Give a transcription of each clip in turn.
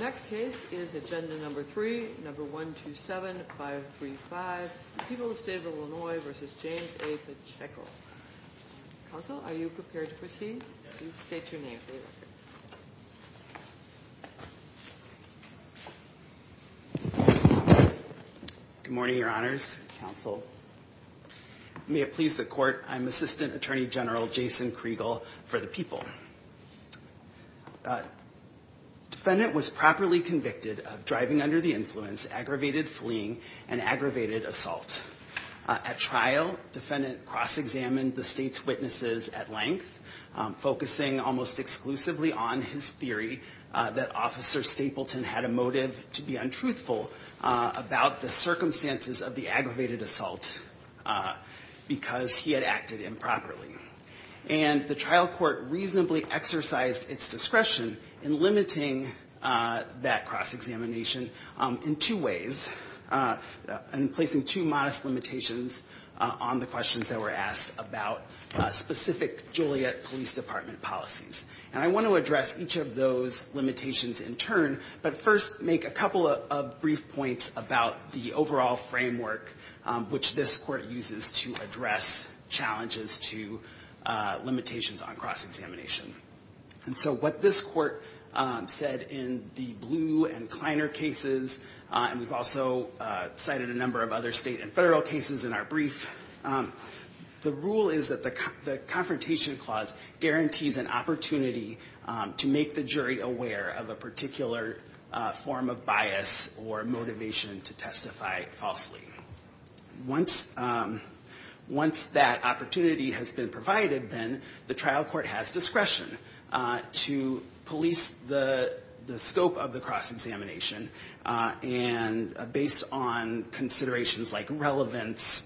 Next case is agenda number 3, number 127-535, the people of the state of Illinois v. James A. Pacheco. Counsel, are you prepared to proceed? Please state your name for the record. Good morning, your honors, counsel. May it please the court, I'm Assistant Attorney General Jason Kriegel for the people. Defendant was properly convicted of driving under the influence, aggravated fleeing, and aggravated assault. At trial, defendant cross-examined the state's witnesses at length, focusing almost exclusively on his theory that Officer Stapleton had a motive to be untruthful about the circumstances of the aggravated assault because he had acted improperly. And the trial court reasonably exercised its discretion in limiting that cross-examination in two ways, in placing two modest limitations on the questions that were asked about specific Joliet Police Department policies. And I want to address each of those limitations in turn, but first make a couple of brief points about the overall framework which this court uses to address challenges to limitations on cross-examination. And so what this court said in the Blue and Kleiner cases, and we've also cited a number of other state and federal cases in our brief, the rule is that the confrontation clause guarantees an opportunity to make the jury aware of a particular form of bias or motivation to testify falsely. Once that opportunity has been provided, then the trial court has discretion to police the scope of the cross-examination and based on considerations like relevance,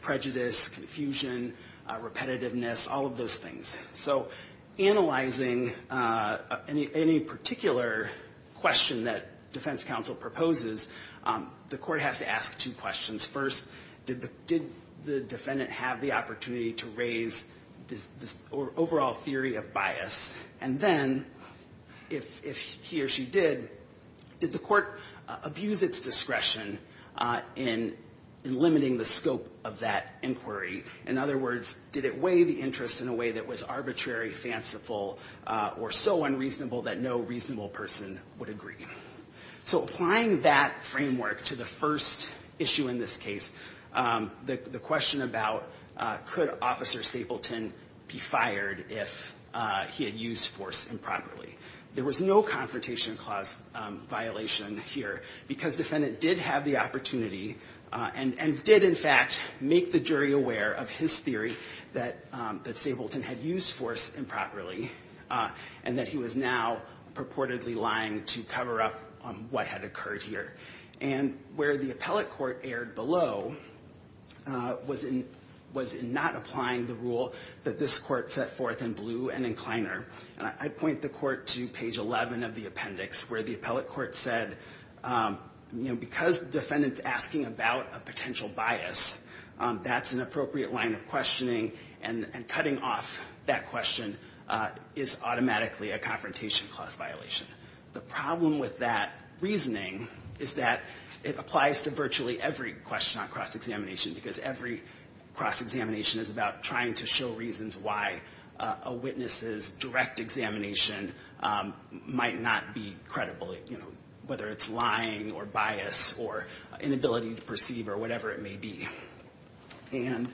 prejudice, confusion, repetitiveness, all of those things. So analyzing any particular question that defense counsel proposes, the court has to ask two questions. First, did the defendant have the opportunity to raise this overall theory of bias? And then if he or she did, did the court abuse its discretion in limiting the scope of that inquiry? In other words, did it weigh the interest in a way that was arbitrary, fanciful, or so unreasonable that no reasonable person would agree? So applying that framework to the first issue in this case, the question about could Officer Stapleton be fired if he had used force improperly? There was no confrontation clause violation here because defendant did have the opportunity and did, in fact, make the jury aware of his theory that Stapleton had used force improperly and that he was now purportedly lying to cover up what had occurred here. And where the appellate court erred below was in not applying the rule that this court set forth in blue and in Kleiner. I'd point the court to page 11 of the appendix where the appellate court said, you know, because the defendant's asking about a potential bias, that's an appropriate line of questioning. And cutting off that question is automatically a confrontation clause violation. The problem with that reasoning is that it applies to virtually every question on cross-examination because every cross-examination is about trying to show reasons why a witness's direct examination might not be credible, you know, whether it's lying or bias or inability to perceive or whatever it may be. And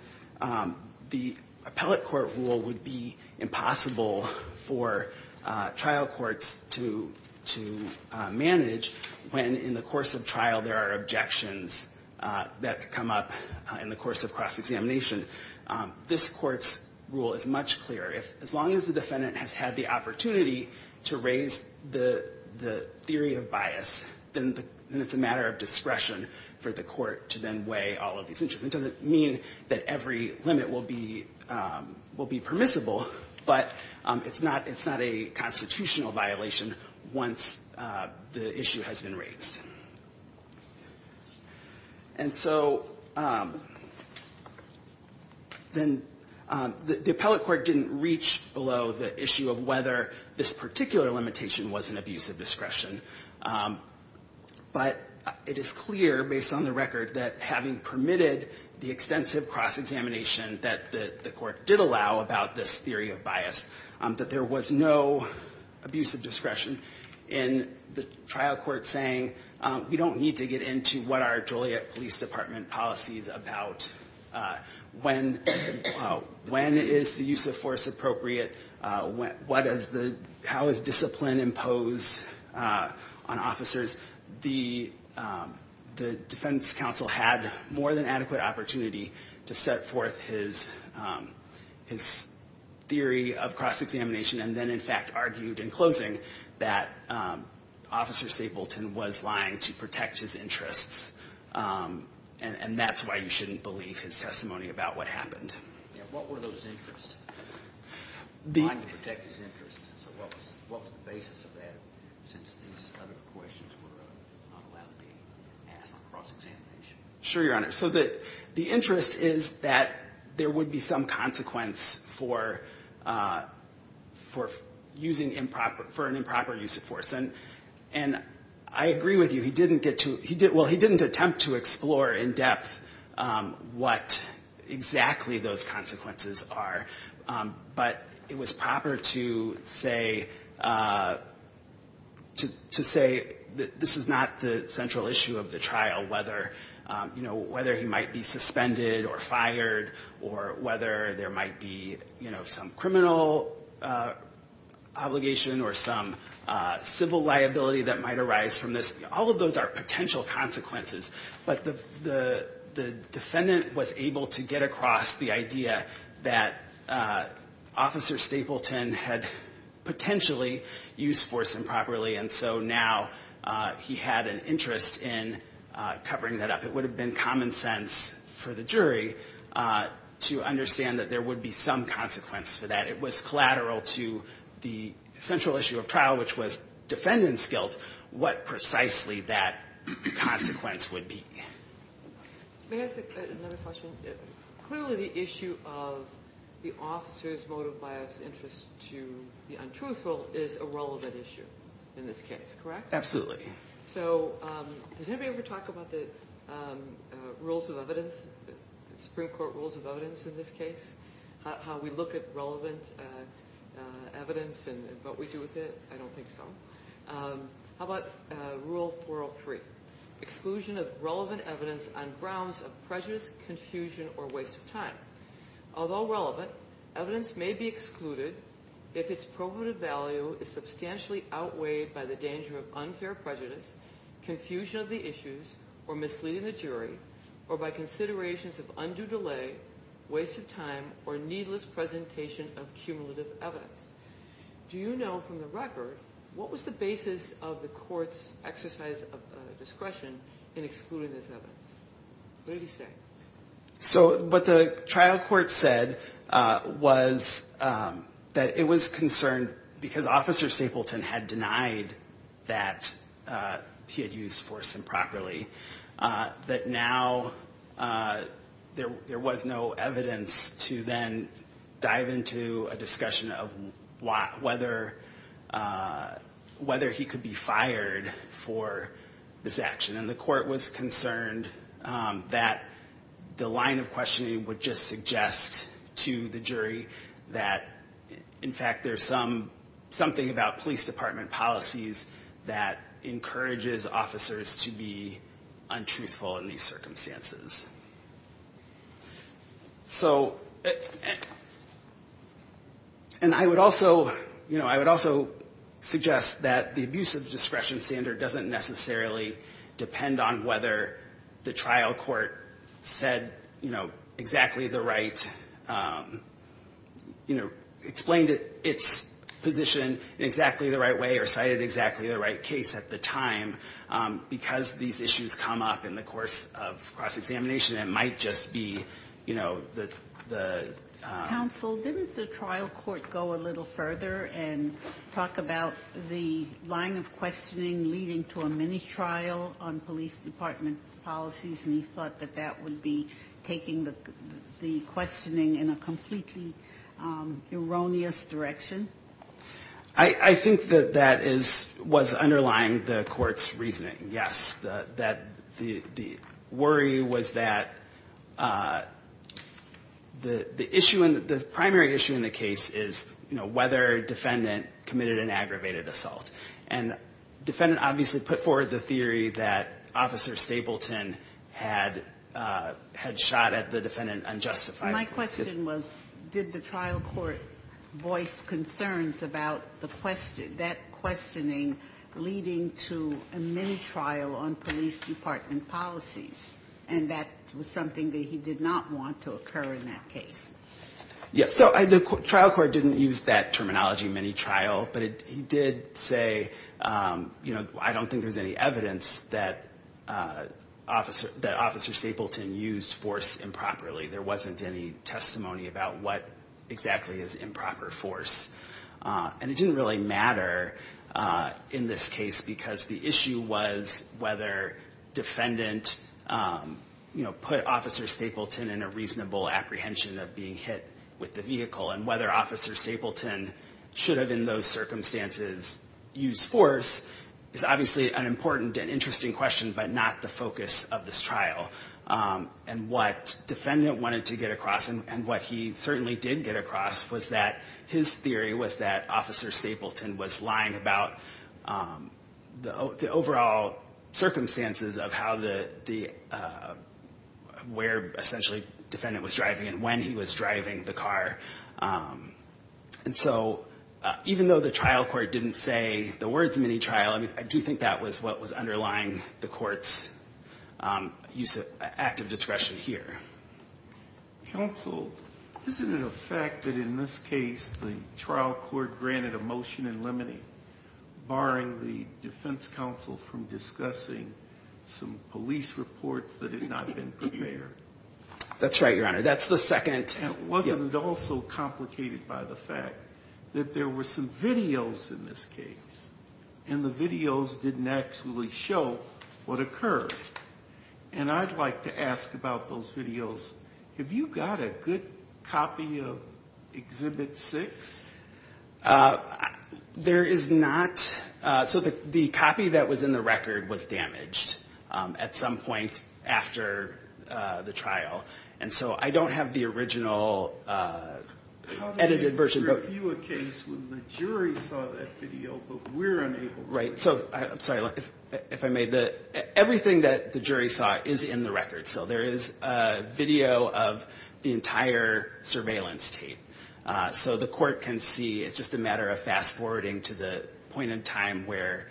the appellate court rule would be impossible for trial courts to manage when in the course of trial there are objections that come up in the course of cross-examination. This court's rule is much clearer. As long as the defendant has had the opportunity to raise the theory of bias, then it's a matter of discretion for the court to then weigh all of these issues. It doesn't mean that every limit will be permissible, but it's not a constitutional violation once the issue has been raised. And so then the appellate court didn't reach below the issue of whether this particular limitation was an abuse of discretion, but it is clear based on the record that having permitted the extensive cross-examination that the court did allow about this theory of bias, that there was no abuse of discretion in the trial court saying we don't need to get into what are Joliet Police Department policies about when is the use of force appropriate, how is discipline imposed on officers. The defense counsel had more than adequate opportunity to set forth his theory of cross-examination and then in fact argued in closing that Officer Stapleton was lying to protect his interests. And that's why you shouldn't believe his testimony about what happened. What were those interests? Lying to protect his interests. So what was the basis of that since these other questions were not allowed to be asked on cross-examination? Sure, Your Honor. So the interest is that there would be some consequence for using improper, for an improper use of force. And I agree with you. He didn't get to, well, he didn't attempt to explore in depth what exactly those consequences are. But it was proper to say, to say that this is not the central issue of the trial, whether, you know, whether he might be suspended or fired or whether there might be, you know, some criminal obligation or some civil liability that might arise from this. All of those are potential consequences. But the defendant was able to get across the idea that Officer Stapleton had potentially used force improperly. And so now he had an interest in covering that up. It would have been common sense for the jury to understand that there would be some consequence for that. But it was collateral to the central issue of trial, which was defendant's guilt, what precisely that consequence would be. May I ask another question? Clearly the issue of the officer's motive, bias, interest to the untruthful is a relevant issue in this case, correct? Absolutely. So does anybody ever talk about the rules of evidence, Supreme Court rules of evidence in this case, how we look at relevant evidence and what we do with it? I don't think so. How about Rule 403, exclusion of relevant evidence on grounds of prejudice, confusion, or waste of time. Although relevant, evidence may be excluded if its probative value is substantially outweighed by the danger of unfair prejudice, confusion of the issues, or misleading the jury, or by considerations of undue delay, waste of time, or needless presentation of cumulative evidence. Do you know from the record what was the basis of the court's exercise of discretion in excluding this evidence? What do you say? So what the trial court said was that it was concerned because Officer Sapleton had denied that he had used force improperly, that now there was no evidence to then dive into a discussion of whether he could be fired for this action. And the court was concerned that the line of questioning would just suggest to the jury that, in fact, there's something about police department policies that encourages officers to be untruthful in these circumstances. So, and I would also, you know, I would also suggest that the abuse of the discretion standard doesn't necessarily depend on whether the trial court said, you know, exactly the right, you know, explained its position in exactly the right way or cited exactly the right case at the time, because these issues come up in the course of cross-examination and might just be, you know, the... Counsel, didn't the trial court go a little further and talk about the line of questioning leading to a mini-trial on police department policies, and he thought that that would be taking the questioning in a completely erroneous direction? I think that that is, was underlying the court's reasoning, yes. The worry was that the issue, the primary issue in the case is, you know, whether a defendant committed an aggravated assault. And the defendant obviously put forward the theory that Officer Stapleton had shot at the defendant unjustified. And my question was, did the trial court voice concerns about that questioning leading to a mini-trial on police department policies, and that was something that he did not want to occur in that case? Yes, so the trial court didn't use that terminology, mini-trial, but he did say, you know, I don't think there's any evidence that Officer Stapleton used force improperly, there wasn't any testimony about what exactly is improper force. And it didn't really matter in this case, because the issue was whether defendant, you know, put Officer Stapleton in a reasonable apprehension of being hit with the vehicle, and whether Officer Stapleton should have in those circumstances used force is obviously an important and interesting question, but not the focus of this trial. And what defendant wanted to get across, and what he certainly did get across, was that his theory was that Officer Stapleton was lying about the overall circumstances of how the, where essentially defendant was driving and when he was driving the car. And so even though the trial court didn't say the words mini-trial, I do think that was what was underlying the court's reasoning. And I think that was what was underlying the court's use of active discretion here. Counsel, isn't it a fact that in this case the trial court granted a motion in limine, barring the defense counsel from discussing some police reports that had not been prepared? That's right, Your Honor, that's the second. And wasn't it also complicated by the fact that there were some videos in this case, and the videos didn't actually show what occurred? And I'd like to ask about those videos. Have you got a good copy of Exhibit 6? There is not. So the copy that was in the record was damaged at some point after the trial, and so I don't have the original video. How do they review a case when the jury saw that video, but we're unable to? Right, so, I'm sorry, if I may, everything that the jury saw is in the record. So there is a video of the entire surveillance tape. So the court can see, it's just a matter of fast-forwarding to the point in time where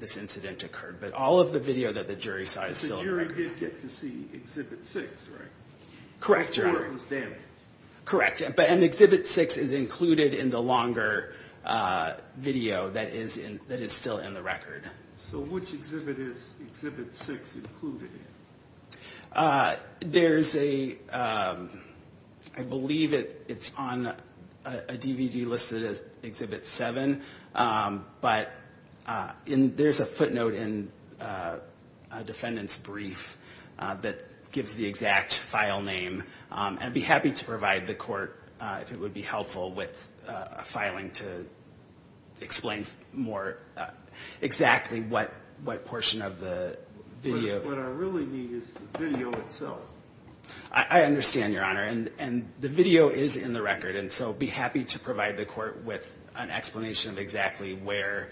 this incident occurred, but all of the video that the jury saw is still in the record. So the jury did get to see Exhibit 6, right? Before it was damaged? Correct, but Exhibit 6 is included in the longer video that is still in the record. So which exhibit is Exhibit 6 included in? There's a, I believe it's on a DVD listed as Exhibit 7, but there's a footnote in a defendant's brief that says, that gives the exact file name, and I'd be happy to provide the court, if it would be helpful, with a filing to explain more exactly what portion of the video. What I really need is the video itself. I understand, Your Honor, and the video is in the record, and so I'd be happy to provide the court with an explanation of exactly where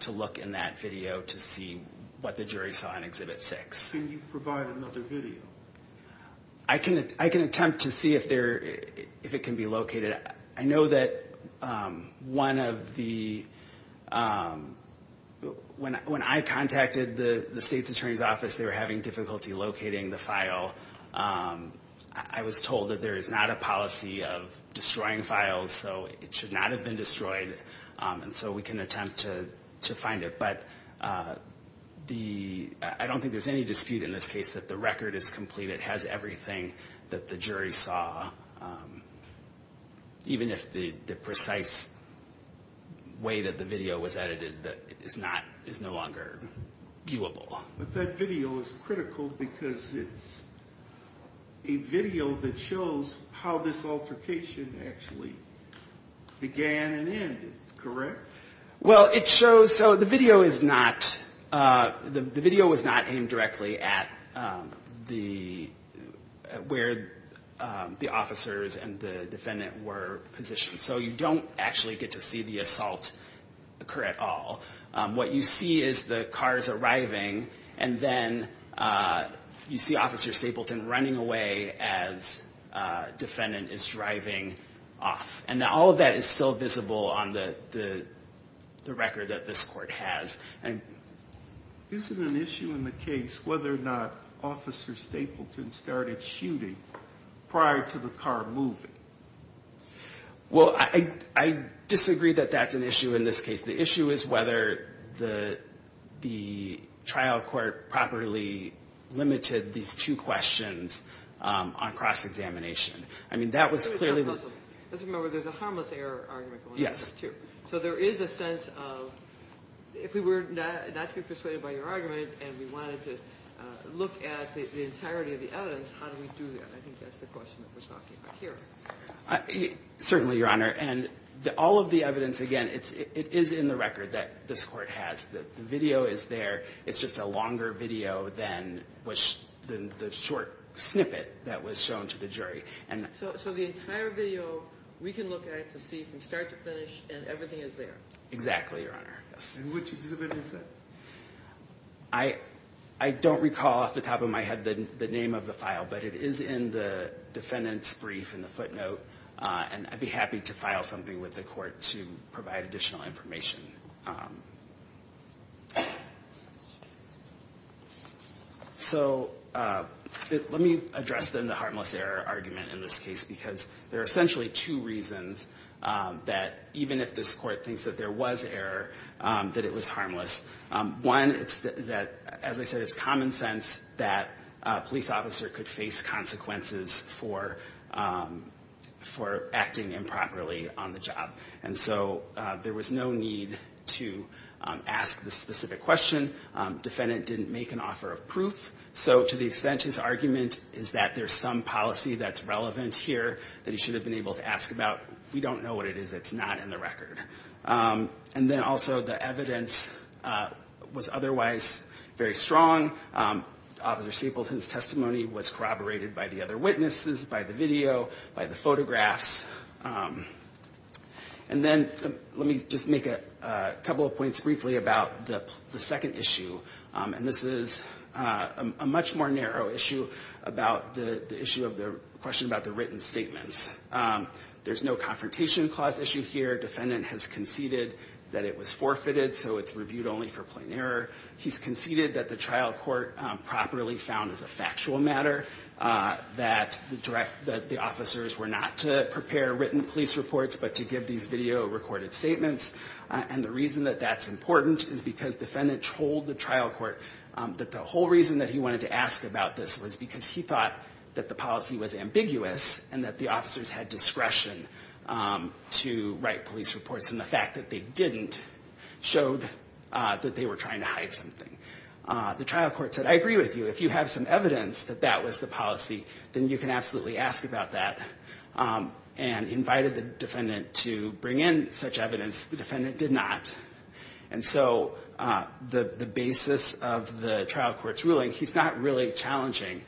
to look in that video to see what the jury saw in Exhibit 6. Can you provide another video? I can attempt to see if it can be located. I know that one of the, when I contacted the State's Attorney's Office, they were having difficulty locating the file. I was told that there is not a policy of destroying files, so it should not have been destroyed, and so we can attempt to find it. But the, I don't think there's any dispute in this case that the record is complete, it has everything that the jury saw, even if the precise way that the video was edited is no longer viewable. But that video is critical because it's a video that shows how this altercation actually began and ended, correct? Well, it shows, so the video is not, the video was not aimed directly at the, where the officers and the defendant were positioned. So you don't actually get to see the assault occur at all. What you see is the cars arriving, and then you see Officer Stapleton running away as defendant is driving off. And all of that is still visible on the record that this court has. Isn't an issue in the case whether or not Officer Stapleton started shooting prior to the car moving? Well, I disagree that that's an issue in this case. The issue is whether the trial court properly limited these two questions on cross-examination. I mean, that was clearly the... Let's remember there's a harmless error argument going on here, too. So there is a sense of, if we were not to be persuaded by your argument, and we wanted to look at the entirety of the evidence, how do we do that? I think that's the question that we're talking about here. Certainly, Your Honor. And all of the evidence, again, it is in the record that this court has. The video is there, it's just a longer video than the short snippet that was shown to the jury. So the entire video, we can look at it to see from start to finish, and everything is there? Exactly, Your Honor. And which exhibit is that? I don't recall off the top of my head the name of the file, but it is in the defendant's brief in the footnote, and I'd be happy to file something with the court to provide additional information. So let me address the harmless error argument in this case, because there are essentially two reasons that, even if this court thinks that there was error, that it was harmless. One, it's that, as I said, it's common sense that a police officer could face consequences for acting improperly on the job. And so there was no need to ask the specific question. Defendant didn't make an offer of proof, so to the extent his argument is that there's some policy that's relevant here that he should have been able to ask about, we don't know what it is, it's not in the record. And then also the evidence was otherwise very strong. Officer Stapleton's testimony was corroborated by the other witnesses, by the video, by the photographs. And then let me just make a couple of points briefly about the second issue, and this is a much more narrow issue about the issue of the question about the written statements. There's no confrontation clause issue here, defendant has conceded that it was forfeited, so it's reviewed only for plain error. He's conceded that the trial court properly found as a factual matter that the officers were not to prepare written police reports, but to give these written statements. And the reason that that's important is because defendant told the trial court that the whole reason that he wanted to ask about this was because he thought that the policy was ambiguous, and that the officers had discretion to write police reports, and the fact that they didn't showed that they were trying to hide something. The trial court said, I agree with you, if you have some evidence that that was the policy, then you can absolutely ask about that. And invited the defendant to bring in such evidence, the defendant did not. And so the basis of the trial court's ruling, he's not really challenging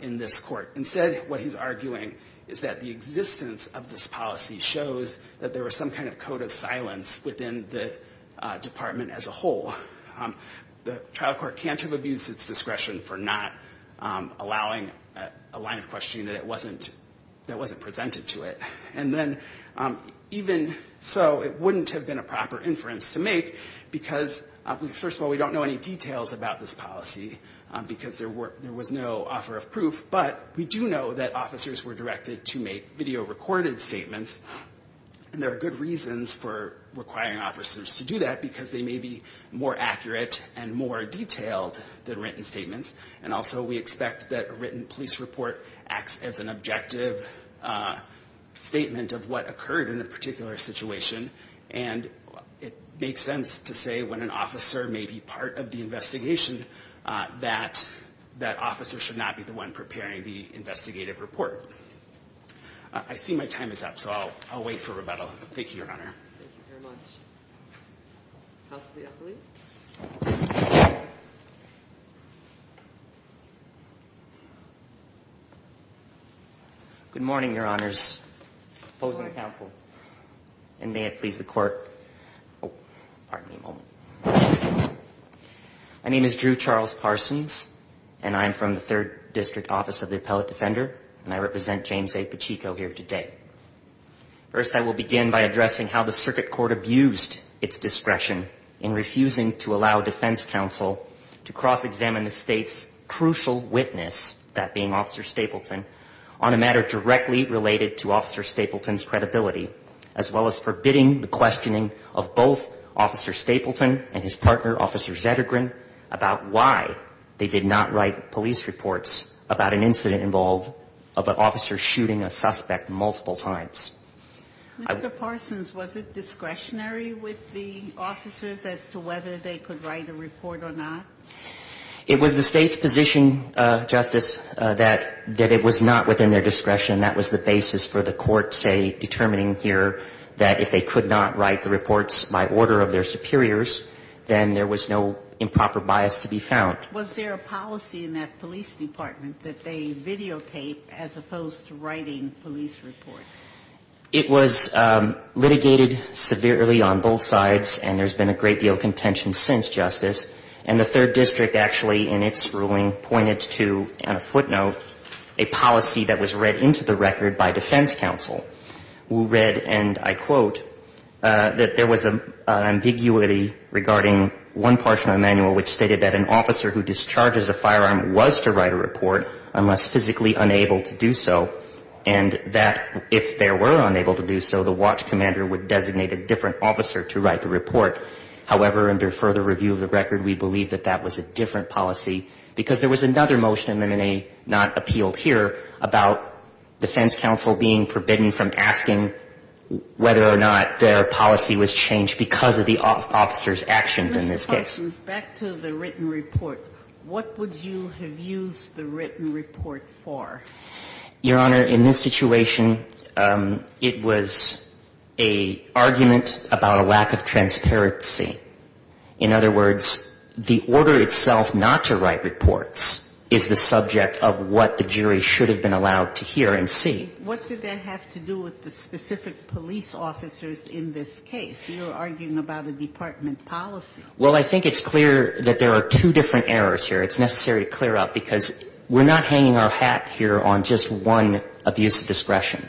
in this court. Instead, what he's arguing is that the existence of this policy shows that there was some kind of code of silence within the department as a whole. The trial court can't have abused its discretion for not allowing a line of questioning that it wasn't, that wasn't necessary. That wasn't presented to it. And then, even so, it wouldn't have been a proper inference to make, because, first of all, we don't know any details about this policy, because there was no offer of proof, but we do know that officers were directed to make video-recorded statements, and there are good reasons for requiring officers to do that, because they may be more accurate and more detailed than written statements. And also, we expect that a written police report acts as an objective statement of what occurred in a particular situation, and it makes sense to say when an officer may be part of the investigation, that that officer should not be the one preparing the investigative report. I see my time is up, so I'll wait for rebuttal. Thank you, Your Honor. Good morning, Your Honors. Opposing counsel. And may it please the Court. Oh, pardon me a moment. My name is Drew Charles Parsons, and I'm from the Third District Office of the Appellate Defender, and I represent James A. Pacheco here today. First, I will begin by addressing how the circuit court abused its discretion in refusing to allow defense counsel to cross-examine the state's law and order. I will also address how the circuit court abused its crucial witness, that being Officer Stapleton, on a matter directly related to Officer Stapleton's credibility, as well as forbidding the questioning of both Officer Stapleton and his partner, Officer Zettergren, about why they did not write police reports about an incident involving an officer shooting a suspect multiple times. Mr. Parsons, was it discretionary with the officers as to whether they could write a report or not? It was the state's position, Justice, that it was not within their discretion. That was the basis for the court, say, determining here that if they could not write the reports by order of their superiors, then there was no improper bias to be found. Was there a policy in that police department that they videotaped as opposed to writing police reports? It was litigated severely on both sides, and there's been a great deal of contention since, Justice. And the third district actually, in its ruling, pointed to, on a footnote, a policy that was read into the record by defense counsel, who read, and I quote, that there was an ambiguity regarding one portion of the manual which stated that an officer who discharges a firearm was to write a report unless physically unable to do so, and that if there were unable to do so, the watch commander would designate a different officer to write the report. However, under further review of the record, we believe that that was a different policy, because there was another motion in the M&A not appealed here about defense counsel being forbidden from asking whether or not their policy was changed because of the officer's actions in this case. Justice Sotomayor, back to the written report. What would you have used the written report for? Your Honor, in this situation, it was an argument about a lack of transparency, and it was a lack of transparency in the sense that it was a written report. In other words, the order itself not to write reports is the subject of what the jury should have been allowed to hear and see. What did that have to do with the specific police officers in this case? You're arguing about a department policy. Well, I think it's clear that there are two different errors here. It's necessary to clear up, because we're not hanging our hat here on just one abuse of discretion.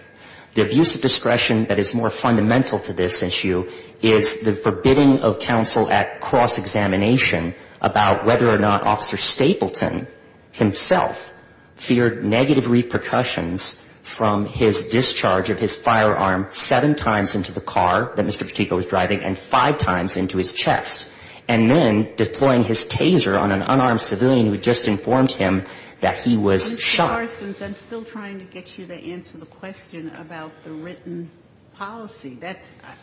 The abuse of discretion that is more fundamental to this issue is the forbidding of counsel at cross-examination about whether or not Officer Stapleton himself feared negative repercussions from his discharge of his firearm seven times into the car that Mr. Petico was driving and five times into his chest, and then deploying his taser on an unarmed civilian who had just informed him that he was shot. I'm still trying to get you to answer the question about the written policy.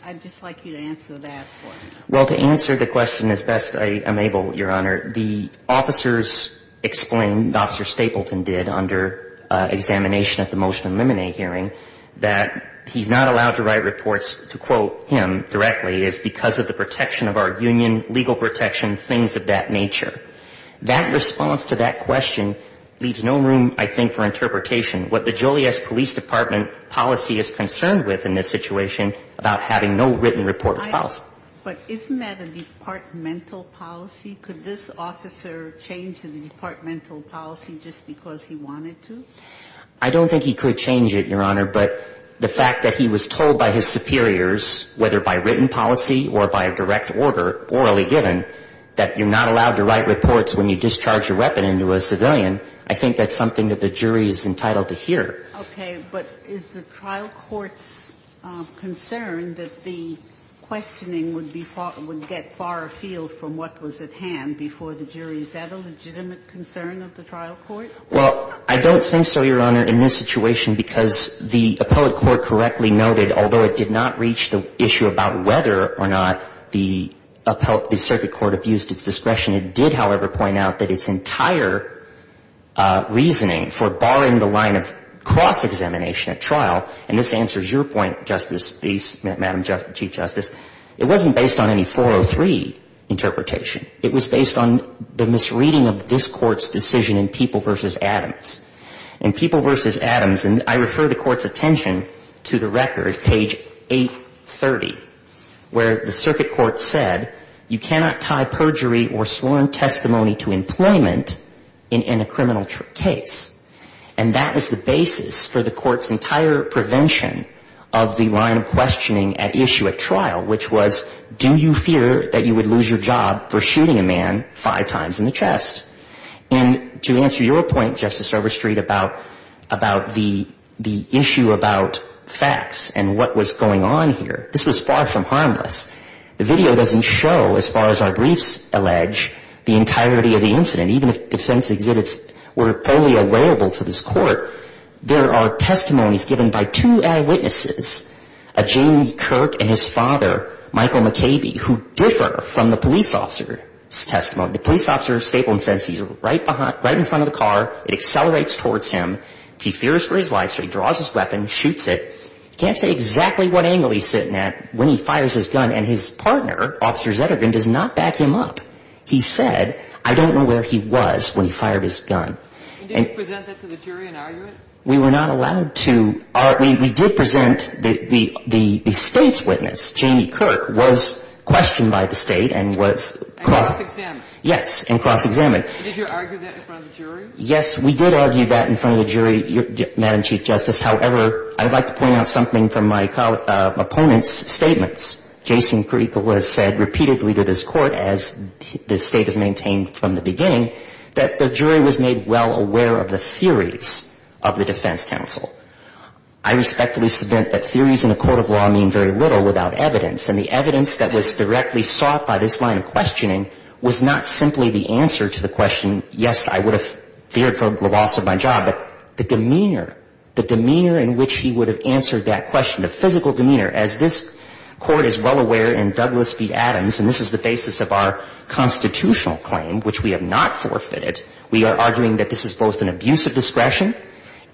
I'd just like you to answer that for me. Well, to answer the question as best I am able, Your Honor, the officers explained, Officer Stapleton did, under examination at the Motion to Eliminate hearing, that he's not allowed to write reports to quote him directly. It's because of the protection of our union, legal protection, things of that nature. That response to that question leaves no room, I think, for the jury to be able to answer that question. And I think that's a good thing for interpretation. What the Joliet Police Department policy is concerned with in this situation about having no written reports policy. But isn't that a departmental policy? Could this officer change the departmental policy just because he wanted to? I don't think he could change it, Your Honor. But the fact that he was told by his superiors, whether by written policy or by a direct order, orally given, that you're not allowed to write reports when you discharge your weapon into a civilian, I think that's something that the jury would be able to do. And I think that's something that the jury is entitled to hear. Okay. But is the trial court's concern that the questioning would be far – would get far afield from what was at hand before the jury? Is that a legitimate concern of the trial court? Well, I don't think so, Your Honor, in this situation, because the appellate court correctly noted, although it did not reach the issue about whether or not the circuit court abused its discretion, it did, however, point out that its entire reasoning for barring a weapon from being used by a civilian was that it was a legitimate concern of the trial court. And so the question is, what's the evidence of the court's decision? And the evidence is that the trial court was not based on any 403 interpretation. It was based on the misreading of this Court's decision in People v. Adams. In People v. Adams – and I refer the Court's attention to the record, page 830, where the circuit court said, you cannot tie perjury or sworn testimony to employment in a criminal case. And that is the basis for the Court's entire prevention of the line of questioning at issue at trial, which was, do you fear that you would lose your job for shooting a man five times in the chest? And to answer your point, Justice Overstreet, about the issue about facts and what was going on here, this was far from harmless. The video doesn't show, as far as our briefs allege, the entirety of the incident, even if defense exhibits were wholly available to the school. And the video doesn't show that. And so there is a lot of evidence in this Court. There are testimonies given by two eyewitnesses, a Jamie Kirk and his father, Michael McCabe, who differ from the police officer's testimony. The police officer's statement says he's right behind – right in front of the car. It accelerates towards him. He fears for his life, so he draws his weapon, shoots it. He can't say exactly what angle he's sitting at when he fires his gun, and his partner, Officer Zettergren, does not back him up. He said, I don't know where he was when he fired his gun. And did you present that to the jury and argue it? We were not allowed to – we did present – the State's witness, Jamie Kirk, was questioned by the State and was – And cross-examined. Yes, and cross-examined. Yes, we did argue that in front of the jury, Madam Chief Justice. However, I'd like to point out something from my opponent's statements. Jason Krueger has said repeatedly to this Court, as the State has maintained from the beginning, that the jury was made well aware of the theories of the defense council. I respectfully submit that theories in a court of law mean very little without evidence. And the evidence that was directly sought by this line of questioning was not simply the answer to the question, yes, I would have – I would have argued that. I feared for the loss of my job, but the demeanor, the demeanor in which he would have answered that question, the physical demeanor. As this Court is well aware in Douglas v. Adams, and this is the basis of our constitutional claim, which we have not forfeited, we are arguing that this is both an abuse of discretion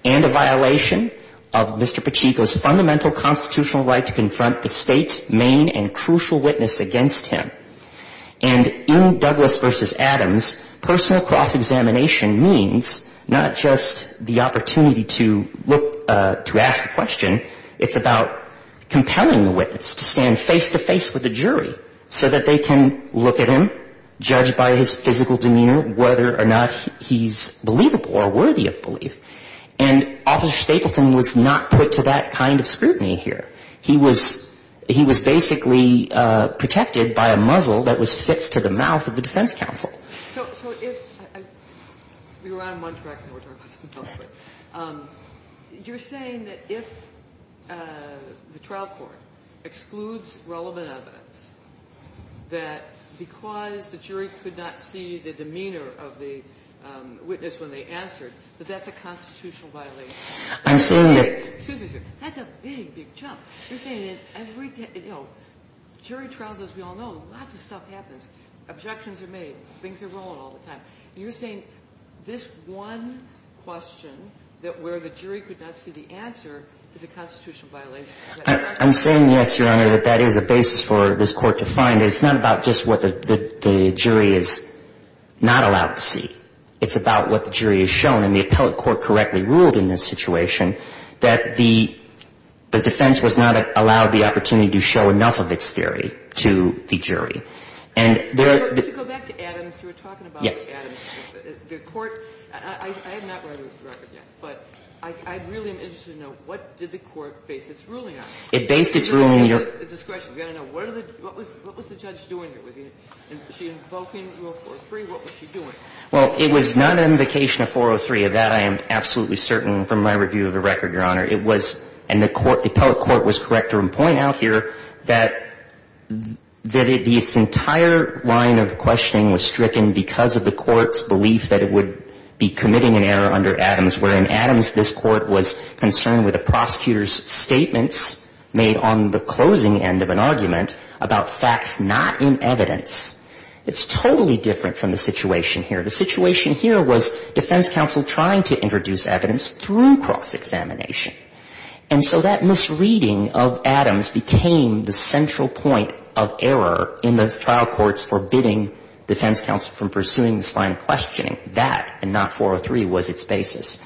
and a violation of Mr. Pacheco's fundamental constitutional right to confront the State's main and crucial witness against him. And in Douglas v. Adams, personal cross-examination means not just the opportunity to look – to ask the question. It's about compelling the witness to stand face-to-face with the jury so that they can look at him, judge by his physical demeanor whether or not he's believable or worthy of belief. And Officer Stapleton was not put to that kind of scrutiny here. He was – he was basically protected by a muzzle that was fixed to the mouth of the defense counsel. So if – we were on one track in order – you're saying that if the trial court excludes relevant evidence that because the jury could not see the demeanor of the witness when they answered, that that's a constitutional violation? I'm saying that – Excuse me, sir. That's a big, big jump. You're saying that every – you know, jury trials, as we all know, lots of stuff happens. Objections are made. Things are rolling all the time. And you're saying this one question that where the jury could not see the answer is a constitutional violation? I'm saying, yes, Your Honor, that that is a basis for this Court to find. It's not about just what the jury is not allowed to see. It's about what the jury is shown. And the appellate court correctly ruled in this situation that the defense was not allowed the opportunity to show enough of its theory to the jury. And there – Could you go back to Adams? You were talking about Adams. Yes. The court – I have not read this record yet, but I really am interested to know, what did the court base its ruling on? It based its ruling – What was the judge doing here? Was she invoking Rule 403? What was she doing? Well, it was not an invocation of 403. Of that I am absolutely certain from my review of the record, Your Honor. It was – and the court – the appellate court was correct to point out here that this entire line of questioning was stricken because of the court's belief that it would be committing an error under Adams, wherein Adams, this court, was concerned with the prosecutor's statements made on the closing end of an argument about facts not in evidence. It's totally different from the situation here. The situation here was defense counsel trying to introduce evidence through cross-examination. And so that misreading of Adams became the central point of error in the trial court's forbidding defense counsel from pursuing this line of questioning. And so I think that, and not 403, was its basis.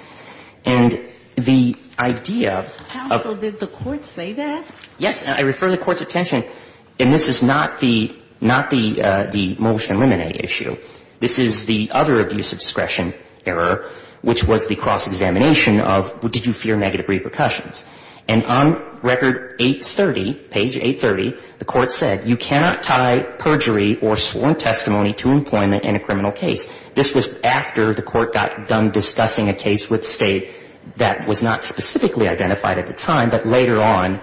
And the idea of – Counsel, did the court say that? Yes. And I refer the court's attention – and this is not the – not the – the motion eliminate issue. This is the other abuse of discretion error, which was the cross-examination of did you fear negative repercussions. And on Record 830, page 830, the court said, you cannot tie perjury or sworn testimony to employment in a criminal case. This was after the court got done discussing a case with State that was not specifically identified at the time, but later on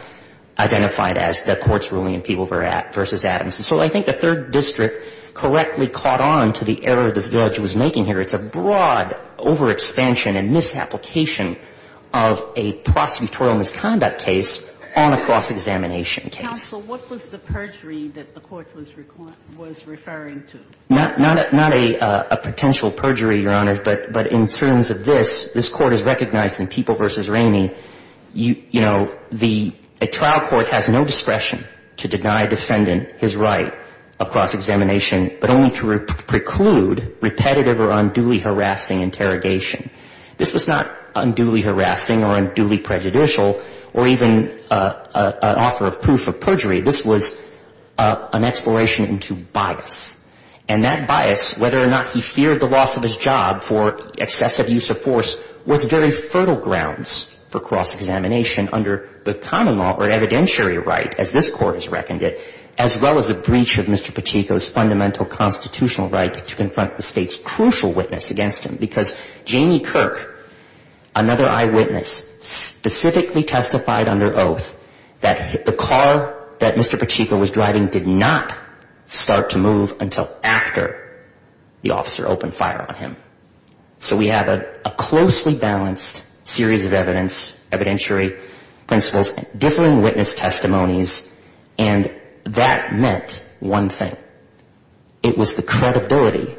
identified as the court's ruling in Peeble v. Adams. And so I think the Third District correctly caught on to the error the judge was making here. It's a broad overexpansion and misapplication of a prosecutorial misconduct case on a cross-examination case. Counsel, what was the perjury that the court was referring to? Not a potential perjury, Your Honor. But in terms of this, this Court has recognized in Peeble v. Ramey, you know, the trial court has no discretion to deny a defendant his right of cross-examination but only to preclude repetitive or unduly harassing interrogation. This was not unduly harassing or unduly prejudicial or even an offer of proof of perjury. This was an exploration into bias. And that bias, whether or not he feared the loss of his job for excessive use of force, was very fertile grounds for cross-examination under the common law or evidentiary right, as this Court has reckoned it, as well as a breach of Mr. Pacheco's fundamental constitutional right to confront the State's crucial witness against him. Because Jamie Kirk, another eyewitness, specifically testified under oath that the car that Mr. Pacheco was driving did not start to move until after the officer opened fire on him. So we have a closely balanced series of evidence, evidentiary principles, differing witness testimonies, and that meant one thing. It was the credibility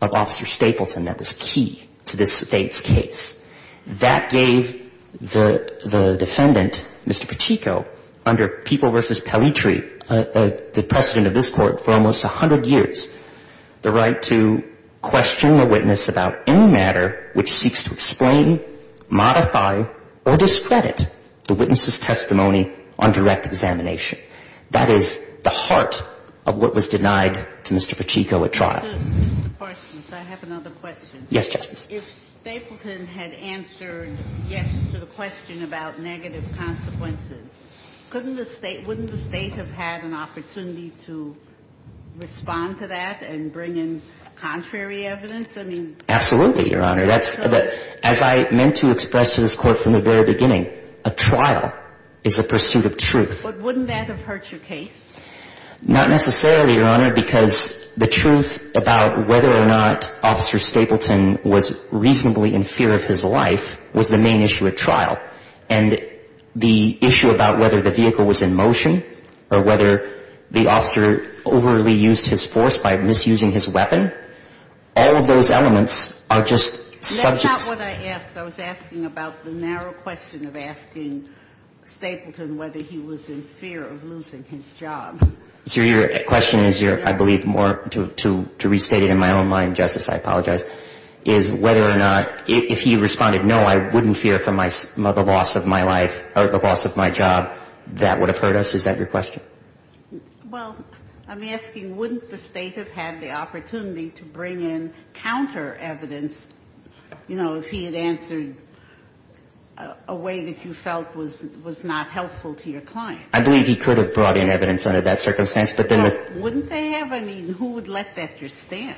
of Officer Stapleton that was key to this State's case. That gave the defendant, Mr. Pacheco, under People v. Pellitri, the precedent of this Court for almost 100 years, the right to question the witness about any matter which seeks to explain, modify, or discredit the witness's own direct examination. That is the heart of what was denied to Mr. Pacheco at trial. Mr. Parsons, I have another question. Yes, Justice. If Stapleton had answered yes to the question about negative consequences, couldn't the State — wouldn't the State have had an opportunity to respond to that and bring in contrary evidence? I mean — Absolutely, Your Honor. But wouldn't that have hurt your case? Not necessarily, Your Honor, because the truth about whether or not Officer Stapleton was reasonably in fear of his life was the main issue at trial. And the issue about whether the vehicle was in motion or whether the officer overly used his force by misusing his weapon, all of those elements are just subjects. That's not what I asked. I was asking about the narrow question of asking Stapleton whether he was in fear of losing his job. Your question is, I believe, more to restate it in my own mind, Justice. I apologize. Is whether or not — if he responded, no, I wouldn't fear for the loss of my life or the loss of my job, that would have hurt us? Is that your question? Well, I'm asking wouldn't the State have had the opportunity to bring in counter evidence, you know, if he had answered a way that you felt was not helpful to your client? I believe he could have brought in evidence under that circumstance, but then — Well, wouldn't they have? I mean, who would let that just stand?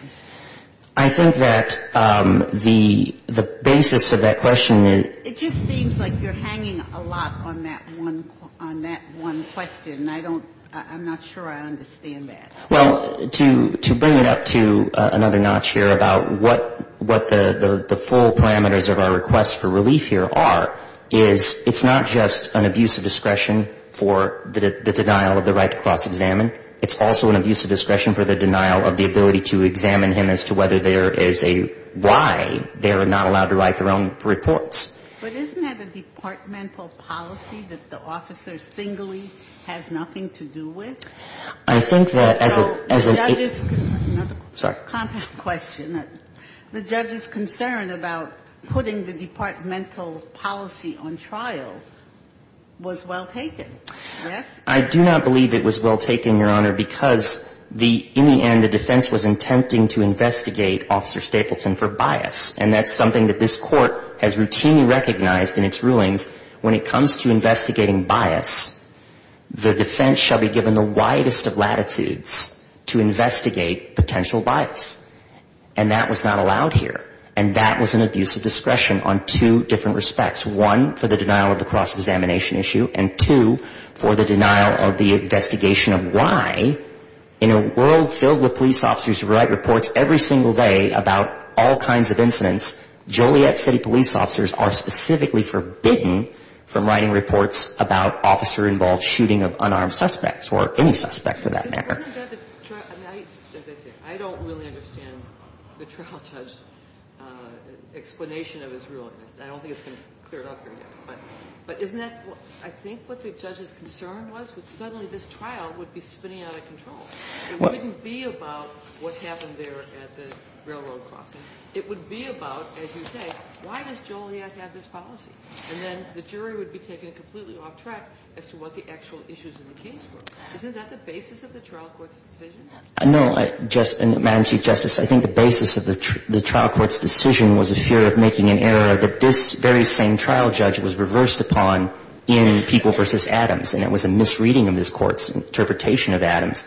I think that the basis of that question is — It just seems like you're hanging a lot on that one question. I don't — I'm not sure I understand that. Well, to bring it up to another notch here about what the full parameters of our request for relief here are, is it's not just an abuse of discretion for the denial of the right to cross-examine. It's also an abuse of discretion for the denial of the ability to examine him as to whether there is a why they're not allowed to write their own reports. But isn't that a departmental policy that the officer singly has nothing to do with? I think that as a — So the judge's — Sorry. Another compound question. The judge's concern about putting the departmental policy on trial was well taken, yes? I do not believe it was well taken, Your Honor, because the — in the end, the defense was intending to investigate Officer Stapleton for bias. And that's something that this Court has routinely recognized in its rulings. When it comes to investigating bias, the defense shall be given the widest of latitudes to investigate potential bias. And that was not allowed here. And that was an abuse of discretion on two different respects. One, for the denial of the cross-examination issue. And two, for the denial of the investigation of why in a world filled with police officers who write reports every single day about all kinds of incidents, Joliet City police officers are specifically forbidden from writing reports about officer-involved shooting of unarmed suspects, or any suspect for that matter. But wasn't that the — I mean, as I say, I don't really understand the trial judge's explanation of his ruling. I don't think it's been cleared up here yet. But isn't that — I think what the judge's concern was was suddenly this trial would be spinning out of control. It wouldn't be about what happened there at the railroad crossing. It would be about, as you say, why does Joliet have this policy? And then the jury would be taken completely off track as to what the actual issues in the case were. Isn't that the basis of the trial court's decision? No. Madam Chief Justice, I think the basis of the trial court's decision was a fear of making an error that this very same trial judge was reversed upon in People v. Adams. And it was a misreading of this court's interpretation of Adams.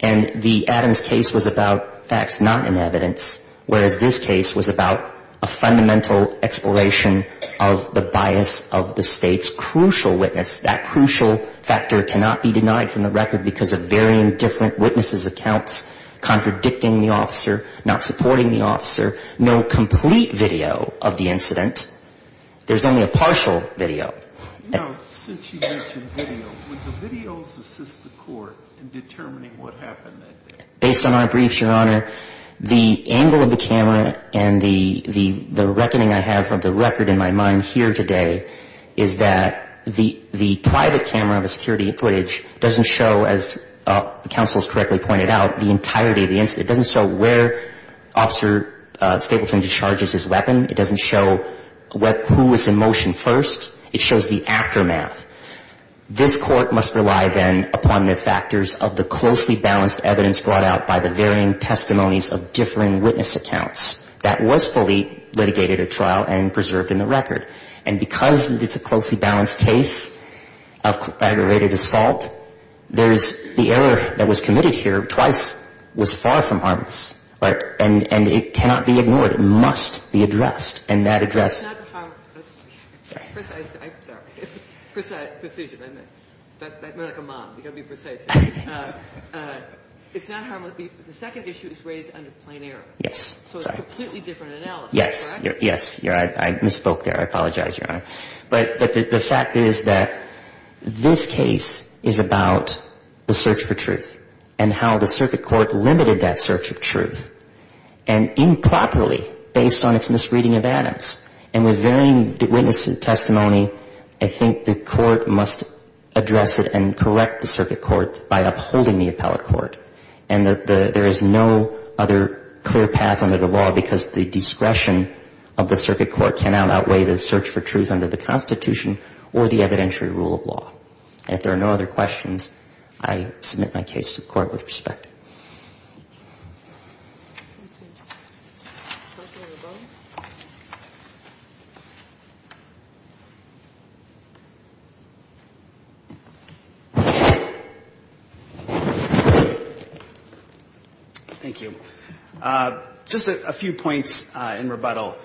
And the Adams case was about facts not in evidence. Whereas this case was about a fundamental exploration of the bias of the State's crucial witness. That crucial factor cannot be denied from the record because of varying different witnesses' accounts contradicting the officer, not supporting the officer, no complete video of the incident. There's only a partial video. Now, since you mentioned video, would the videos assist the court in determining what happened that day? Based on our briefs, Your Honor, the angle of the camera and the reckoning I have of the record in my mind here today is that the private camera of the security footage doesn't show, as counsel has correctly pointed out, the entirety of the incident. It doesn't show where Officer Stapleton discharges his weapon. It doesn't show who was in motion first. It shows the aftermath. This court must rely, then, upon the factors of the closely balanced evidence brought out by the varying testimonies of differing witness accounts. That was fully litigated at trial and preserved in the record. And because it's a closely balanced case of aggravated assault, there's the error that was committed here twice was far from harmless, and it cannot be ignored. The second issue is raised under plain error. Yes. So it's a completely different analysis, correct? Yes. I misspoke there. I apologize, Your Honor. But the fact is that this case is about the search for truth and how the circuit court limited that search of truth, and improperly, based on its misreading of Adams. And with varying witness testimony, I think the court must address it and correct the circuit court by upholding the appellate court. And there is no other clear path under the law because the discretion of the circuit court cannot outweigh the search for truth under the Constitution or the evidentiary rule of law. And if there are no other questions, I submit my case to court with respect. Thank you. Just a few points in rebuttal.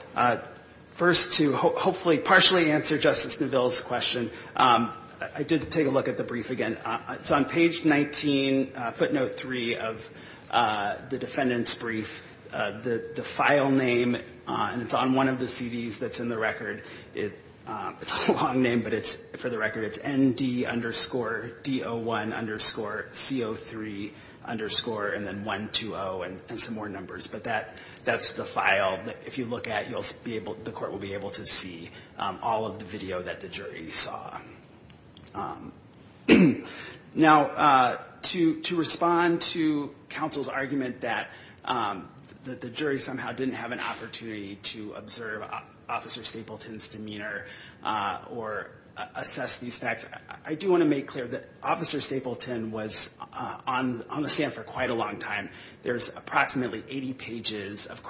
First, to hopefully partially answer Justice Neville's question, I did take a look at the brief again. It's on page 19, footnote 3 of the defendant's brief. The file name, and it's on one of the CDs that's in the record. It's a long name, but for the record, it's ND underscore DO1 underscore CO3 underscore and then 120 and some more numbers. But that's the file that if you look at, the court will be able to see all of the video that the jury saw. Now, to respond to counsel's argument that the jury somehow didn't have an opportunity to observe Officer Stapleton's demeanor or assess these facts, I do want to make clear that Officer Stapleton was on the stand for quite a long time. There's approximately 80 pages of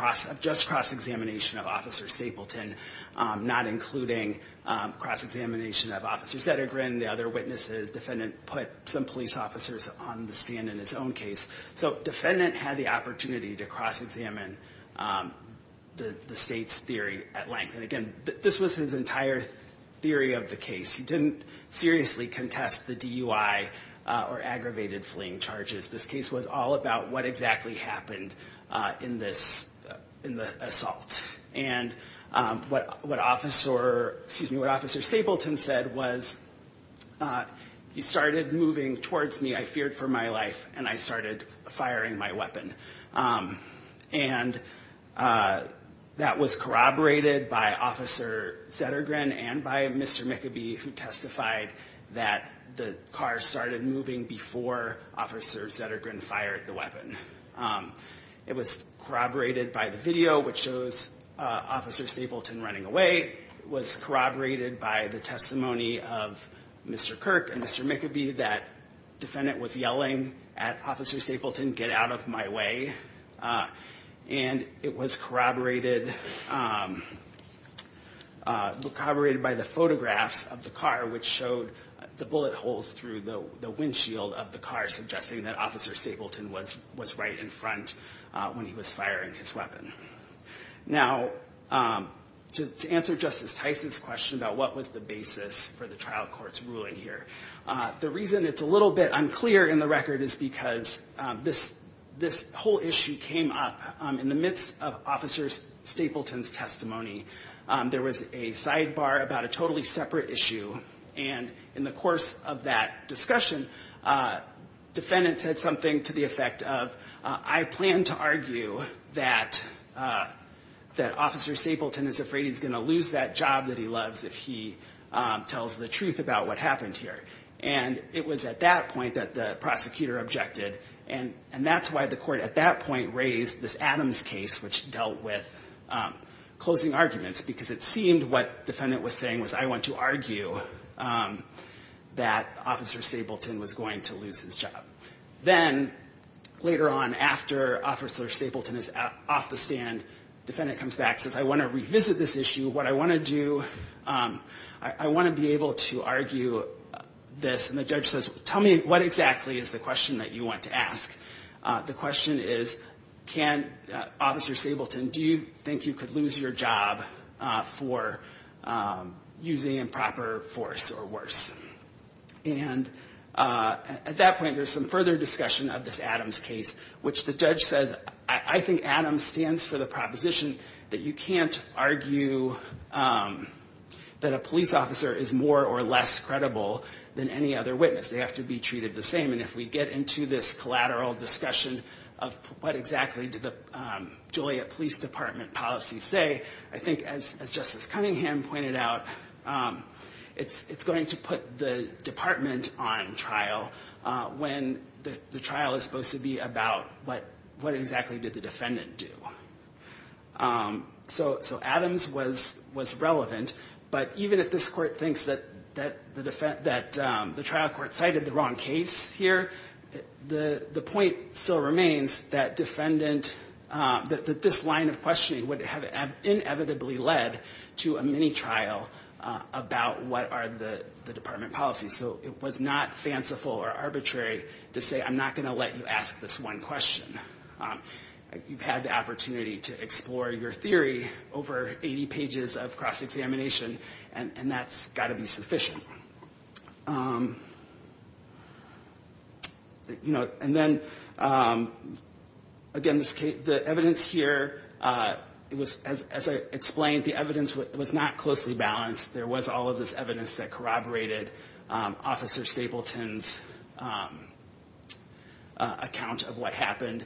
just cross-examination of Officer Stapleton, not cross-examination of Officer Zettergren, the other witnesses. Defendant put some police officers on the stand in his own case. So defendant had the opportunity to cross-examine the state's theory at length. And again, this was his entire theory of the case. He didn't seriously contest the DUI or aggravated fleeing charges. This case was all about what exactly happened in the assault. And what Officer Stapleton said was, he started moving towards me. I feared for my life, and I started firing my weapon. And that was corroborated by Officer Zettergren and by Mr. McAbee, who testified that the car started moving before Officer Zettergren fired the weapon. It was corroborated by the video, which shows Officer Stapleton running away. It was corroborated by the testimony of Mr. Kirk and Mr. McAbee, that defendant was yelling at Officer Stapleton, get out of my way. And it was corroborated by the photographs of the car, which showed the bullet holes through the windshield of the car, suggesting that Officer Stapleton was right in front when he was firing his weapon. Now, to answer Justice Tyson's question about what was the basis for the trial court's ruling here, the reason it's a little bit unclear in the record is because this whole issue came up in the midst of Officer Stapleton's testimony. There was a sidebar about a totally separate issue. And in the course of that discussion, defendant said something to the effect of, I plan to argue that Officer Stapleton is afraid he's going to lose that job that he loves if he tells the truth about what happened here. And it was at that point that the prosecutor objected. And that's why the court at that point raised this Adams case, which dealt with closing arguments, because it seemed what defendant was saying was, I want to argue that Officer Stapleton was going to lose his job. Then, later on, after Officer Stapleton is off the stand, defendant comes back and says, I want to revisit this issue. What I want to do, I want to be able to argue this. And the judge says, tell me what exactly is the question that you want to ask. The question is, can Officer Stapleton, do you think you could lose your job for using improper force or worse? And at that point, there's some further discussion of this Adams case, which the judge says, I think Adams stands for the proposition that you can't argue that a police officer is more or less credible than any other witness. They have to be treated the same. And if we get into this collateral discussion of what exactly did the Joliet Police Department policy say, I think, as Justice Cunningham pointed out, it's going to put the department on trial when the trial is supposed to be about what exactly did the defendant do. So Adams was relevant. But even if this court thinks that the trial court cited the wrong case here, the point still remains that this line of questioning would have inevitably led to a mini trial about what are the department policies. So it was not fanciful or arbitrary to say, I'm not going to let you ask this one question. You've had the opportunity to explore your theory over 80 pages of cross-examination, and that's got to be sufficient. And then, again, the evidence here, as I explained, the evidence was not closely balanced. There was all of this evidence that corroborated Officer Stapleton's account of what happened.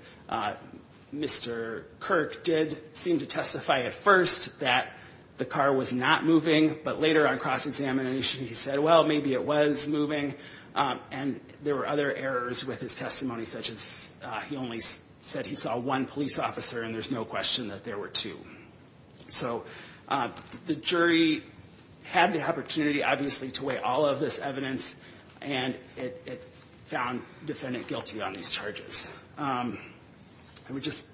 Mr. Kirk did seem to testify at first that the car was not moving, but later on cross-examination he said, well, maybe it was moving. And there were other errors with his testimony, such as he only said he saw one police officer, and there's no question that there were two. So the jury had the opportunity, obviously, to weigh all of this evidence, and it found the defendant guilty on these charges. I would just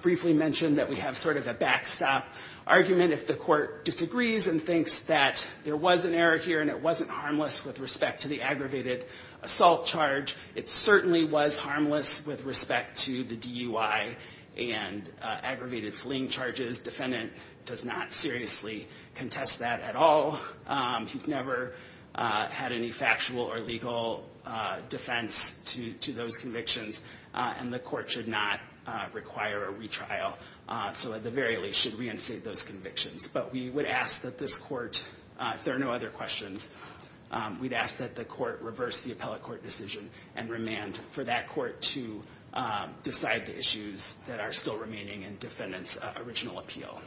briefly mention that we have sort of a backstop argument. If the court disagrees and thinks that there was an error here and it wasn't harmless with respect to the aggravated assault charge, it certainly was harmless with respect to the DUI and aggravated fleeing charges. Defendant does not seriously contest that at all. He's never had any factual or legal defense to those convictions, and the court should not require a retrial, so at the very least should reinstate those convictions. But we would ask that this court, if there are no other questions, we'd ask that the court reverse the appellate court decision and remand for that court to decide the issues that are still remaining in defendant's original appeal. Thank you.